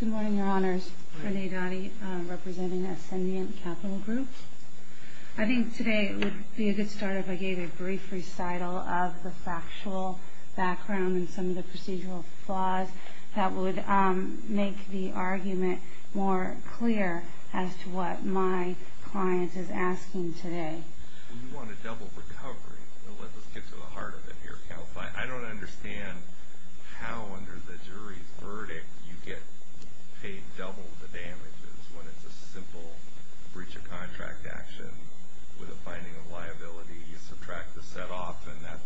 Good morning, your honors. Renee Donnie, representing Ascendiant Capital Group. I think today would be a good start if I gave a brief recital of the factual background and some of the procedural flaws that would make the argument more clear as to what my client is asking today. We want a double recovery. Let's get to the heart of it here. I don't understand how under the jury's verdict you get paid double the damages when it's a simple breach of contract action with a finding of liability. You subtract the set-off and that's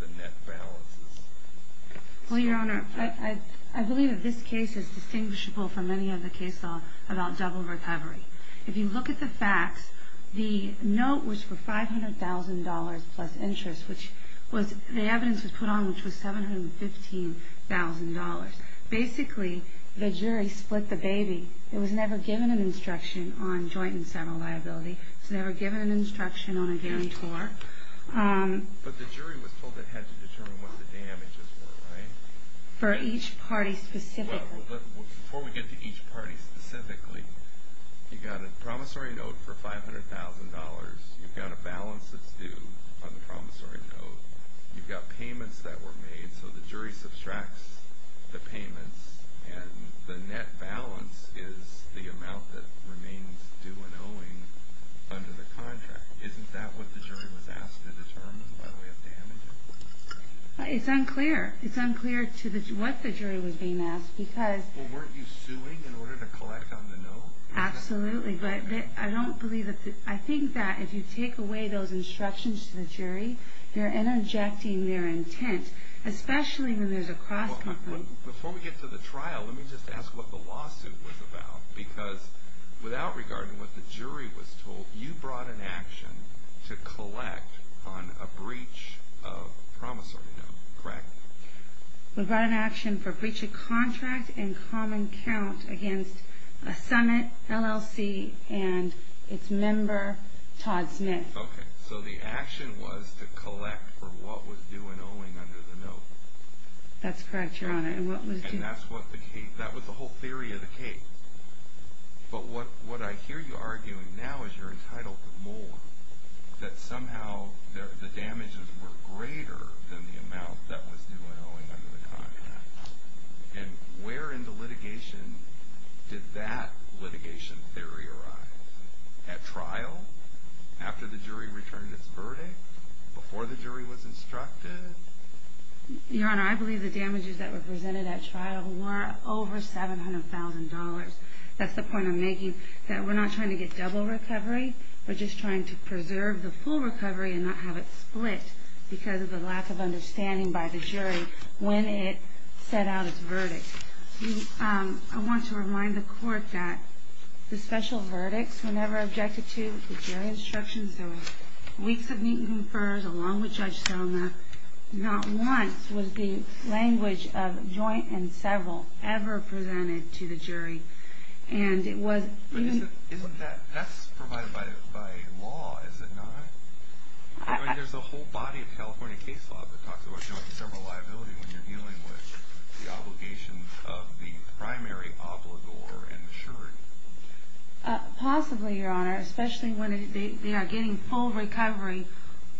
the net balance. Well, your honor, I believe that this case is distinguishable from any other case about double recovery. If you look at the facts, the note was for $500,000 plus interest. The evidence was put on which was $715,000. Basically, the jury split the baby. It was never given an instruction on joint and seminal liability. It was never given an instruction on a guarantor. But the jury was told it had to determine what the damages were, right? For each party specifically. Before we get to each party specifically, you've got a promissory note for $500,000. You've got a balance that's due on the promissory note. You've got payments that were made, so the jury subtracts the payments and the net balance is the amount that remains due and owing under the contract. Isn't that what the jury was asked to determine by way of damages? It's unclear. It's unclear to what the jury was being asked because Well, weren't you suing in order to collect on the note? Absolutely, but I don't believe that the I think that if you take away those instructions to the jury, you're interjecting their intent, especially when there's a cross-conflict. Before we get to the trial, let me just ask what the lawsuit was about because without regarding what the jury was told, you brought an action to collect on a breach of promissory note, correct? We brought an action for breach of contract and common count against Summit LLC and its member, Todd Smith. Okay, so the action was to collect for what was due and owing under the note. That's correct, Your Honor. And that was the whole theory of the case. But what I hear you arguing now is you're entitled to more, that somehow the damages were greater than the amount that was due and owing under the contract. And where in the litigation did that litigation theory arise? At trial? After the jury returned its verdict? Before the jury was instructed? Your Honor, I believe the damages that were presented at trial were over $700,000. That's the point I'm making, that we're not trying to get double recovery. We're just trying to preserve the full recovery and not have it split because of the lack of understanding by the jury when it set out its verdict. I want to remind the Court that the special verdicts were never objected to. The jury instructions, there were weeks of meet-and-confers along with Judge Selma. Not once was the language of joint and several ever presented to the jury. But that's provided by law, is it not? There's a whole body of California case law that talks about joint and several liability when you're dealing with the obligations of the primary obligor and insured. Possibly, Your Honor, especially when they are getting full recovery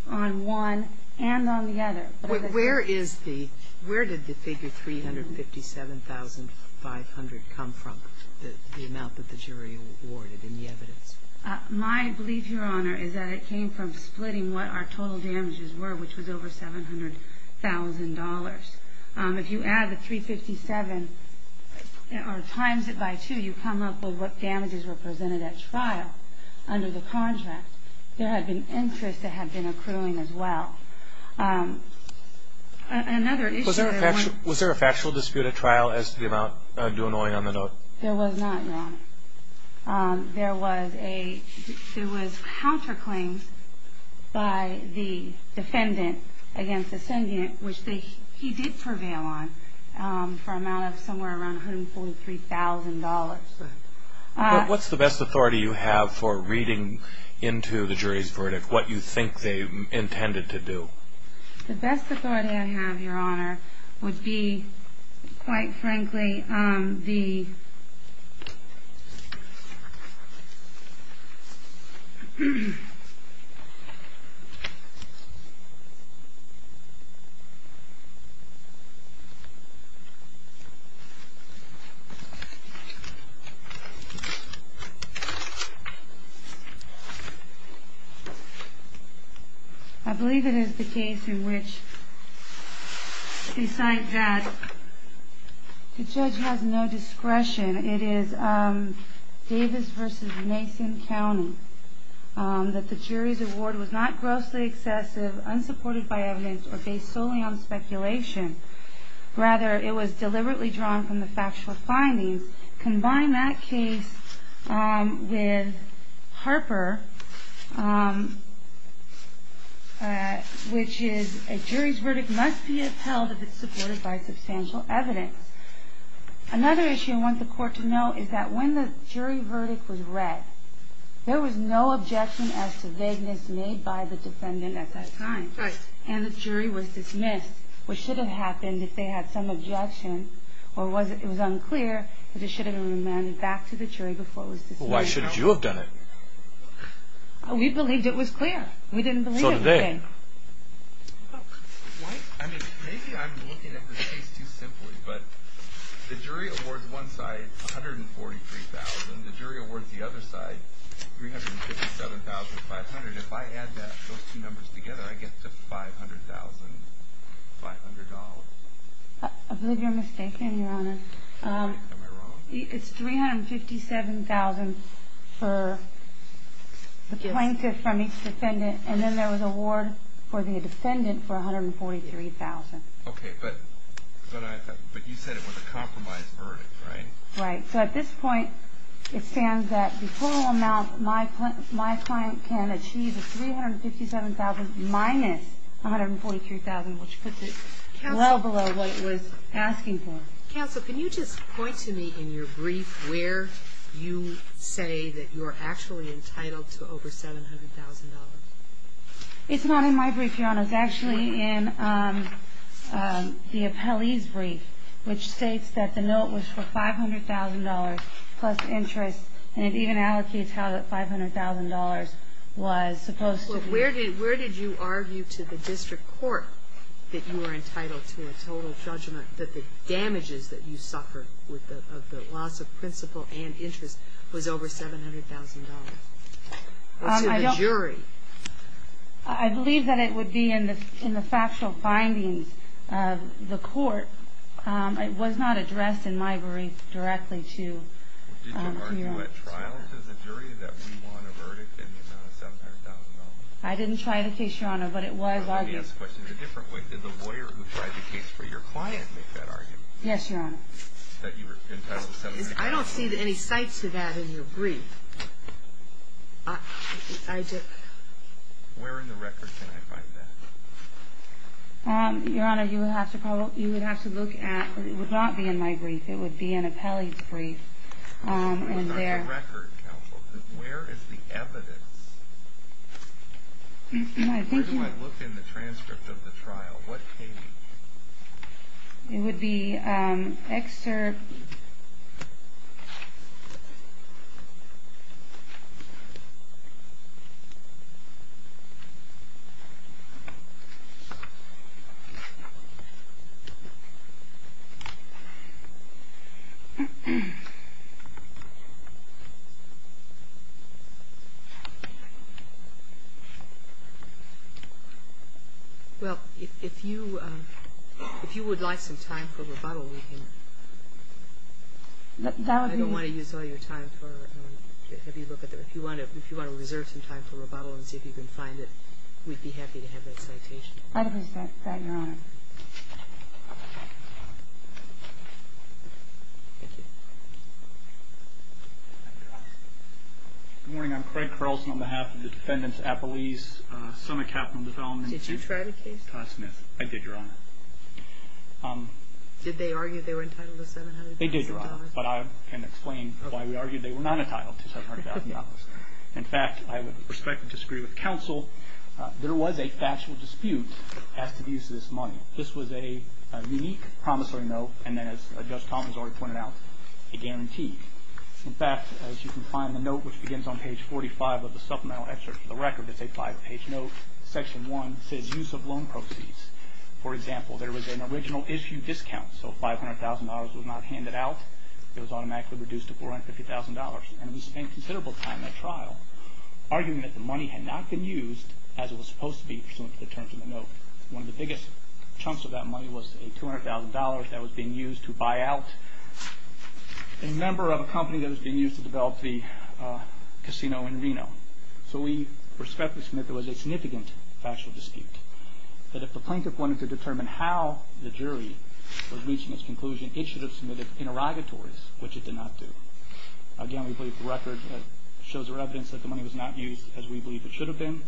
on one and on the other. Where did the figure $357,500 come from, the amount that the jury awarded in the evidence? My belief, Your Honor, is that it came from splitting what our total damages were, which was over $700,000. If you add the $357,000 or times it by two, you come up with what damages were presented at trial under the contract. There had been interest that had been accruing as well. Was there a factual dispute at trial as to the amount due annoying on the note? There was not, Your Honor. There was counterclaims by the defendant against the sentient, which he did prevail on for an amount of somewhere around $143,000. What's the best authority you have for reading into the jury's verdict, what you think they intended to do? The best authority I have, Your Honor, would be, quite frankly, the... I believe it is the case in which, besides that, the judge has no discretion. It is Davis v. Mason County that the jury's award was not grossly excessive, unsupported by evidence, or based solely on speculation. Rather, it was deliberately drawn from the factual findings. Combine that case with Harper, which is, a jury's verdict must be upheld if it's supported by substantial evidence. Another issue I want the court to know is that when the jury verdict was read, there was no objection as to vagueness made by the defendant at that time. And the jury was dismissed, which should have happened if they had some objection, or it was unclear, but it should have been remanded back to the jury before it was dismissed. Why should you have done it? We believed it was clear. We didn't believe it. So did they. I mean, maybe I'm looking at the case too simply, but the jury awards one side $143,000, the jury awards the other side $357,500. If I add those two numbers together, I get to $500,500. I believe you're mistaken, Your Honor. Am I wrong? It's $357,000 for the plaintiff from each defendant, and then there was an award for the defendant for $143,000. Okay, but you said it was a compromised verdict, right? Right. So at this point, it stands that the total amount my client can achieve is $357,000 minus $143,000, which puts it well below what it was asking for. Counsel, can you just point to me in your brief where you say that you're actually entitled to over $700,000? It's not in my brief, Your Honor. It's actually in the appellee's brief, which states that the note was for $500,000 plus interest, and it even allocates how that $500,000 was supposed to be. Well, where did you argue to the district court that you were entitled to a total judgment that the damages that you suffered with the loss of principal and interest was over $700,000? Or to the jury? I believe that it would be in the factual findings of the court. It was not addressed in my brief directly to your Honor. Did you argue at trial to the jury that we want a verdict in the amount of $700,000? I didn't try the case, Your Honor, but it was argued. Let me ask the question in a different way. Did the lawyer who tried the case for your client make that argument? Yes, Your Honor. That you were entitled to $700,000? I don't see any cite to that in your brief. I do. Where in the record can I find that? Your Honor, you would have to look at—it would not be in my brief. It would be in appellee's brief. Where is the record, counsel? Where is the evidence? Where do I look in the transcript of the trial? What page? It would be excerpt. Well, if you would like some time for rebuttal, we can— I don't want to use all your time for—if you want to reserve some time for rebuttal and see if you can find it, we'd be happy to have that citation. I don't have that, Your Honor. Thank you. Good morning. I'm Craig Carlson on behalf of the defendants appellees, Senate Capital Development and— Did you try the case? I did, Your Honor. Did they argue they were entitled to $700,000? They did, Your Honor. But I can explain why we argued they were not entitled to $700,000. In fact, I would be prospective to disagree with counsel. There was a factual dispute as to the use of this money. This was a unique promissory note and then, as Judge Thomas already pointed out, a guarantee. In fact, as you can find the note, which begins on page 45 of the supplemental excerpt for the record, it's a five-page note, section one, says use of loan proceeds. For example, there was an original issue discount, so $500,000 was not handed out. It was automatically reduced to $450,000. And we spent considerable time at trial arguing that the money had not been used, as it was supposed to be, for some of the terms of the note. One of the biggest chunks of that money was a $200,000 that was being used to buy out a member of a company that was being used to develop the casino in Reno. So we respectfully submit there was a significant factual dispute, that if the plaintiff wanted to determine how the jury was reaching its conclusion, it should have submitted interrogatories, which it did not do. Again, we believe the record shows there's evidence that the money was not used, as we believe it should have been.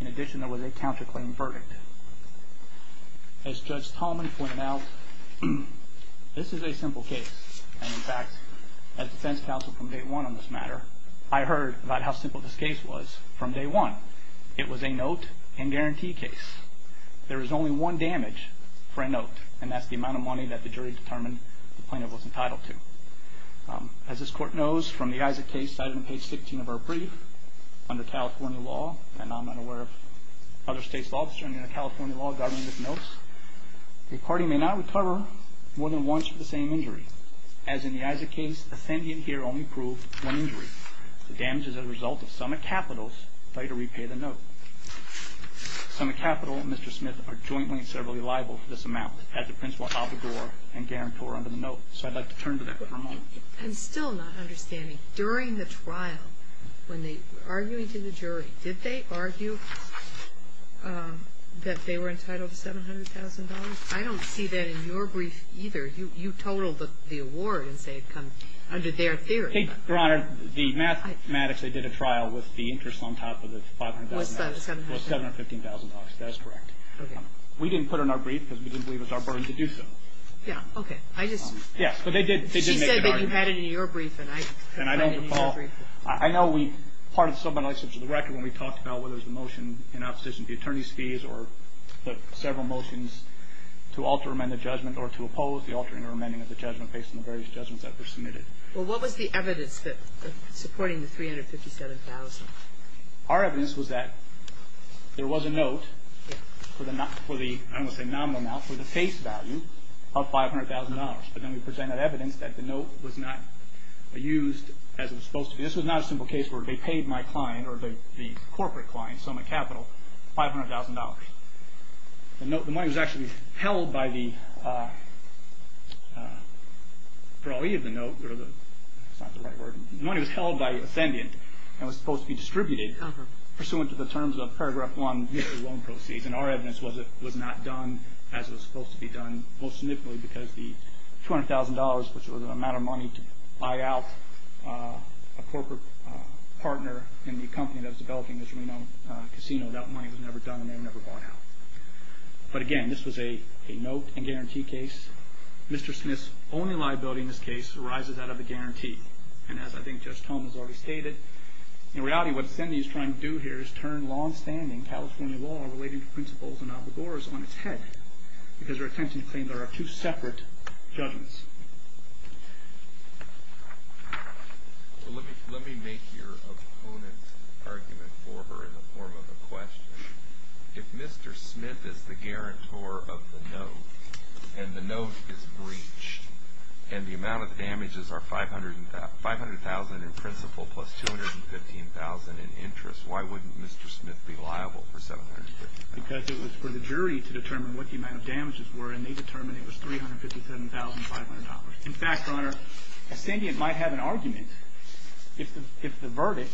In addition, there was a counterclaim verdict. As Judge Talman pointed out, this is a simple case. And in fact, as defense counsel from day one on this matter, I heard about how simple this case was from day one. It was a note and guarantee case. There was only one damage for a note, and that's the amount of money that the jury determined the plaintiff was entitled to. As this Court knows from the Isaac case, cited in page 16 of our brief, under California law, and I'm not aware of other states' law, but certainly under California law, government knows, a party may not recover more than once for the same injury. As in the Isaac case, the defendant here only proved one injury. The damage is a result of summit capitals. They had to repay the note. Summit capital and Mr. Smith are jointly and severally liable for this amount as the principal abogor and guarantor under the note. So I'd like to turn to that for a moment. I'm still not understanding. During the trial, when they were arguing to the jury, did they argue that they were entitled to $700,000? I don't see that in your brief either. You totaled the award and say it comes under their theory. I think, Your Honor, the mathematics, they did a trial with the interest on top of the $500,000. Was that $700,000? It was $715,000. That is correct. Okay. We didn't put it in our brief because we didn't believe it was our burden to do so. Yeah. Okay. I just. Yeah. But they did make the argument. She said that you had it in your brief and I didn't find it in your brief. And I don't recall. I know we, part of the subpoena license of the record, when we talked about whether it was the motion in opposition to the attorney's fees or several motions to alter or amend the judgment or to oppose the altering or amending of the judgment based on the various judgments that were submitted. Well, what was the evidence supporting the $357,000? Our evidence was that there was a note for the, I don't want to say nominal amount, for the face value of $500,000. But then we presented evidence that the note was not used as it was supposed to be. This was not a simple case where they paid my client or the corporate client, Soma Capital, $500,000. The note, the money was actually held by the employee of the note or the, that's not the right word. The money was held by ascendant and was supposed to be distributed pursuant to the terms of Paragraph 1 of the loan proceeds. And our evidence was it was not done as it was supposed to be done, most significantly because the $200,000, which was the amount of money to buy out a corporate partner in the company that was developing this casino, that money was never done and they were never bought out. But again, this was a note and guarantee case. Mr. Smith's only liability in this case arises out of the guarantee. And as I think Judge Tomas already stated, in reality, what Cindy is trying to do here is turn longstanding California law relating to principals and obligors on its head because her intention is to claim there are two separate judgments. Let me make your opponent's argument for her in the form of a question. If Mr. Smith is the guarantor of the note and the note is breached and the amount of damages are $500,000 in principal plus $215,000 in interest, why wouldn't Mr. Smith be liable for $715,000? Because it was for the jury to determine what the amount of damages were and they determined it was $357,500. In fact, Your Honor, Cindy might have an argument if the verdict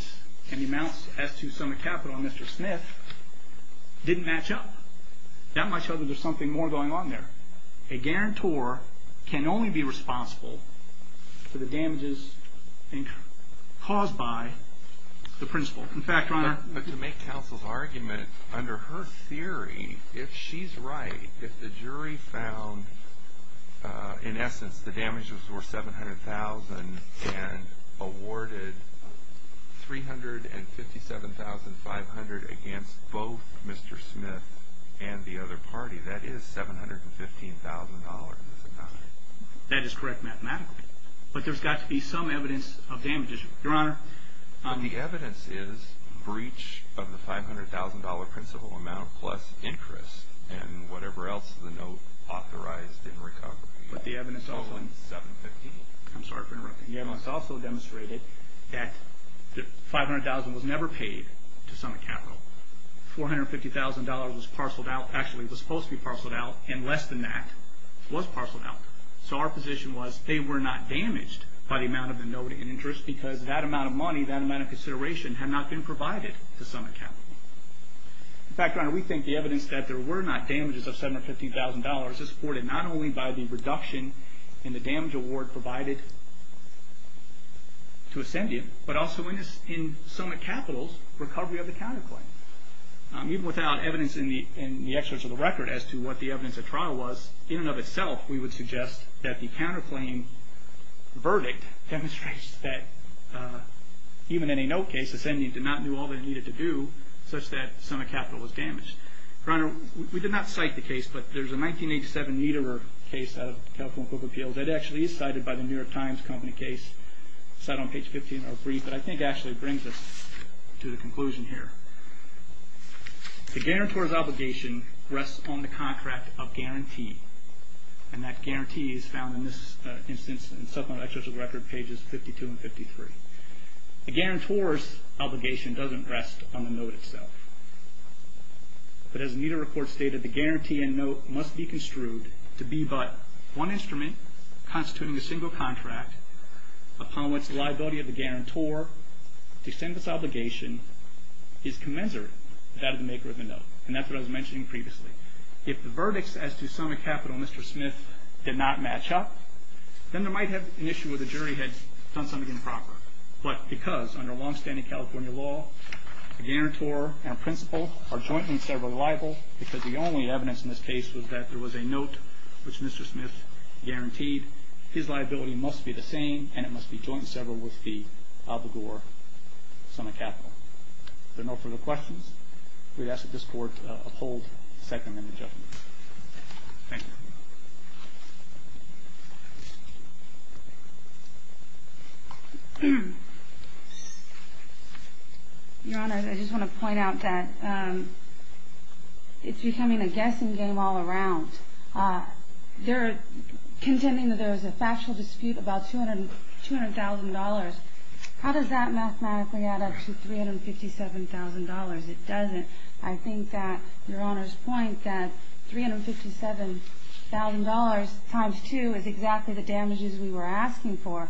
and the amounts as to some of the capital on Mr. Smith didn't match up. That might show that there's something more going on there. A guarantor can only be responsible for the damages caused by the principal. In fact, Your Honor. But to make counsel's argument, under her theory, if she's right, if the jury found in essence the damages were $700,000 and awarded $357,500 against both Mr. Smith and the other party, that is $715,000 in this account. That is correct mathematically. But there's got to be some evidence of damages, Your Honor. The evidence is breach of the $500,000 principal amount plus interest and whatever else the note authorized in recovery. But the evidence also demonstrated that $500,000 was never paid to some account. $450,000 was supposed to be parceled out and less than that was parceled out. So our position was they were not damaged by the amount of the note in interest because that amount of money, that amount of consideration, had not been provided to some account. In fact, Your Honor, we think the evidence that there were not damages of $750,000 is supported not only by the reduction in the damage award provided to Ascendium, but also in SOMA Capital's recovery of the counterclaim. Even without evidence in the excerpts of the record as to what the evidence of trial was, in and of itself we would suggest that the counterclaim verdict demonstrates that even in a note case, Ascendium did not do all they needed to do such that SOMA Capital was damaged. Your Honor, we did not cite the case, but there's a 1987 Niederer case out of the California Public Appeals that actually is cited by the New York Times Company case. It's not on page 15 of our brief, but I think actually brings us to the conclusion here. The guarantor's obligation rests on the contract of guarantee. And that guarantee is found in this instance in supplemental excerpts of the record, pages 52 and 53. The guarantor's obligation doesn't rest on the note itself. But as Niederer report stated, the guarantee in note must be construed to be but one instrument constituting a single contract upon which the liability of the guarantor to extend this obligation is commensurate with that of the maker of the note. And that's what I was mentioning previously. If the verdicts as to SOMA Capital, Mr. Smith, did not match up, then there might have been an issue where the jury had done something improper. But because under longstanding California law, a guarantor and a principal are jointly and severally liable because the only evidence in this case was that there was a note which Mr. Smith guaranteed, his liability must be the same and it must be jointly severed with the obligor, SOMA Capital. If there are no further questions, we'd ask that this Court uphold the second and the judgment. Thank you. Your Honor, I just want to point out that it's becoming a guessing game all around. They're contending that there was a factual dispute about $200,000. How does that mathematically add up to $357,000? It doesn't. I think that Your Honor's point that $357,000 times 2 is exactly the damages we were asking for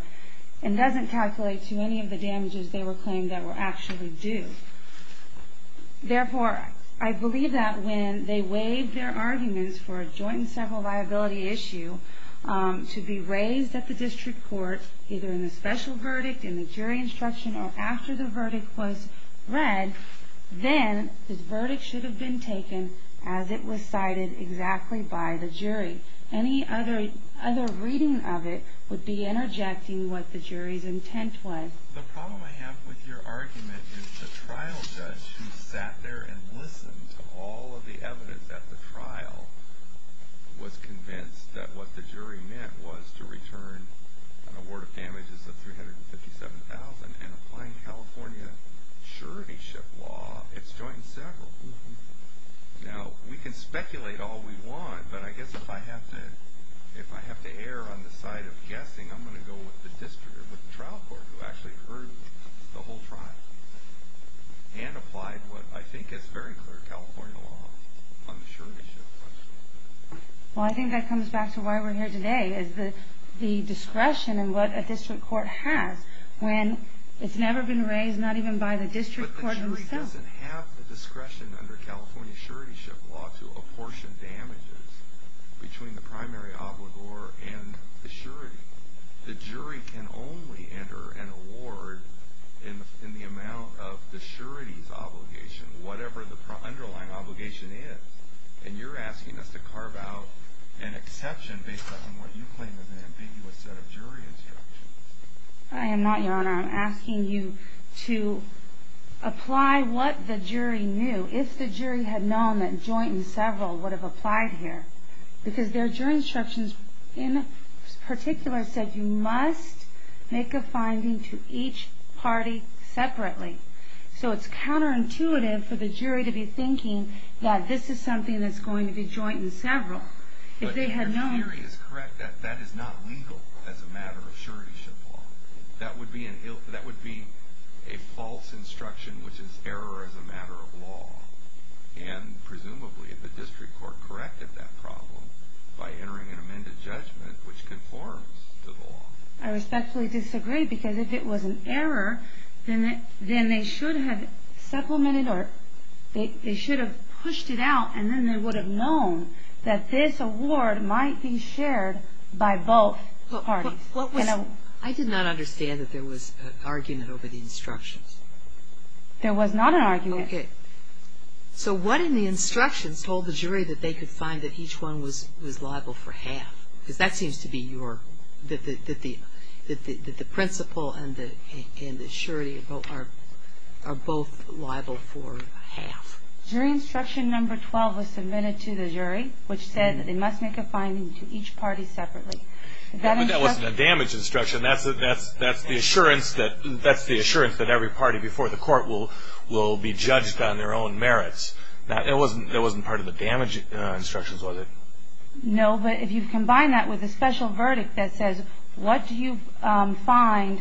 and doesn't calculate to any of the damages they were claiming that were actually due. Therefore, I believe that when they weighed their arguments for a joint and several liability issue to be raised at the district court either in the special verdict, in the jury instruction, or after the verdict was read, then the verdict should have been taken as it was cited exactly by the jury. Any other reading of it would be interjecting what the jury's intent was. The problem I have with your argument is the trial judge who sat there and listened to all of the evidence at the trial, was convinced that what the jury meant was to return an award of damages of $357,000 and applying California surety ship law, it's joint and several. Now, we can speculate all we want, but I guess if I have to err on the side of guessing, I'm going to go with the district or with the trial court who actually heard the whole trial and applied what I think is very clear California law on the surety ship. Well, I think that comes back to why we're here today, is the discretion and what a district court has when it's never been raised, not even by the district court itself. But the jury doesn't have the discretion under California surety ship law to apportion damages between the primary obligor and the surety. The jury can only enter an award in the amount of the surety's obligation, whatever the underlying obligation is. And you're asking us to carve out an exception based on what you claim is an ambiguous set of jury instructions. I am not, Your Honor. I'm asking you to apply what the jury knew, if the jury had known that joint and several would have applied here, because their jury instructions in particular said you must make a finding to each party separately. So it's counterintuitive for the jury to be thinking that this is something that's going to be joint and several. But your theory is correct that that is not legal as a matter of surety ship law. That would be a false instruction, which is error as a matter of law. And presumably the district court corrected that problem by entering an amended judgment which conforms to the law. I respectfully disagree because if it was an error, then they should have supplemented or they should have pushed it out and then they would have known that this award might be shared by both parties. I did not understand that there was an argument over the instructions. There was not an argument. Okay. So what in the instructions told the jury that they could find that each one was liable for half? Because that seems to be your, that the principle and the surety are both liable for half. Jury instruction number 12 was submitted to the jury, which said that they must make a finding to each party separately. But that wasn't a damage instruction. That's the assurance that every party before the court will be judged on their own merits. That wasn't part of the damage instructions, was it? No, but if you combine that with a special verdict that says, what do you find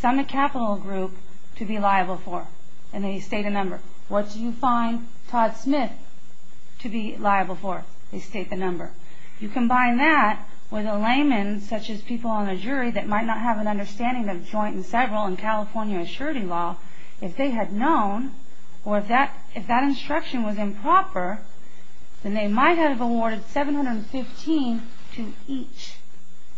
some capital group to be liable for? And they state a number. What do you find Todd Smith to be liable for? They state the number. You combine that with a layman such as people on the jury that might not have an understanding of joint and several in California surety law. If they had known or if that instruction was improper, then they might have awarded 715 to each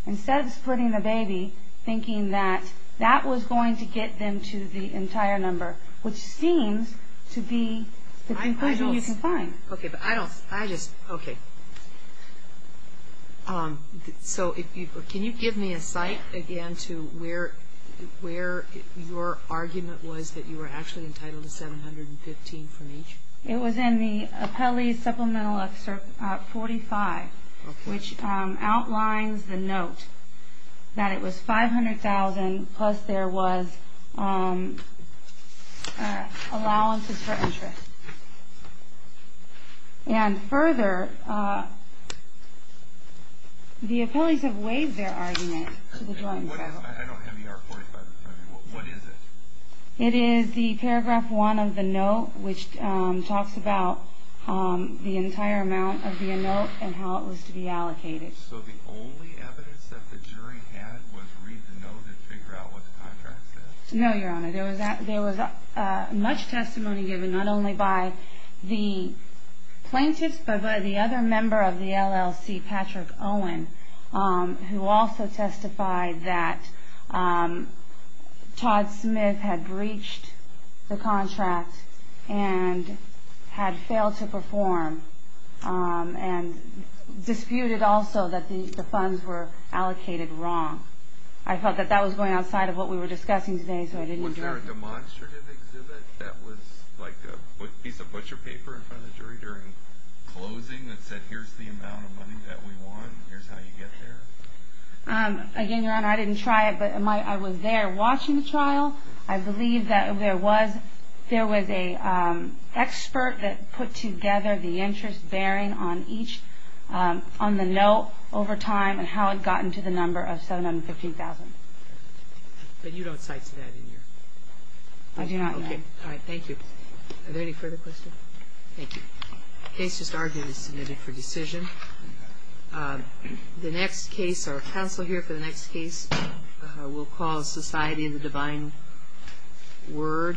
instead of splitting the baby, thinking that that was going to get them to the entire number, which seems to be the conclusion you can find. Okay, but I don't, I just, okay. So can you give me a site, again, to where your argument was that you were actually entitled to 715 from each? It was in the Appellee's Supplemental Excerpt 45, which outlines the note that it was 500,000 plus there was allowances for interest. And further, the appellees have waived their argument. I don't have the R45. What is it? It is the paragraph one of the note, which talks about the entire amount of the note and how it was to be allocated. So the only evidence that the jury had was read the note and figure out what the contract said? No, Your Honor. There was much testimony given not only by the plaintiffs, but by the other member of the LLC, Patrick Owen, who also testified that Todd Smith had breached the contract and had failed to perform and disputed also that the funds were allocated wrong. I felt that that was going outside of what we were discussing today. Was there a demonstrative exhibit that was like a piece of butcher paper in front of the jury during closing that said here's the amount of money that we want and here's how you get there? Again, Your Honor, I didn't try it, but I was there watching the trial. I believe that there was an expert that put together the interest bearing on each on the note over time and how it got into the number of $715,000. But you don't cite that in your? I do not, Your Honor. Okay. All right. Thank you. Are there any further questions? Thank you. The case is arguably submitted for decision. The next case, our counsel here for the next case, we'll call Society and the Divine Word v. Napolitano.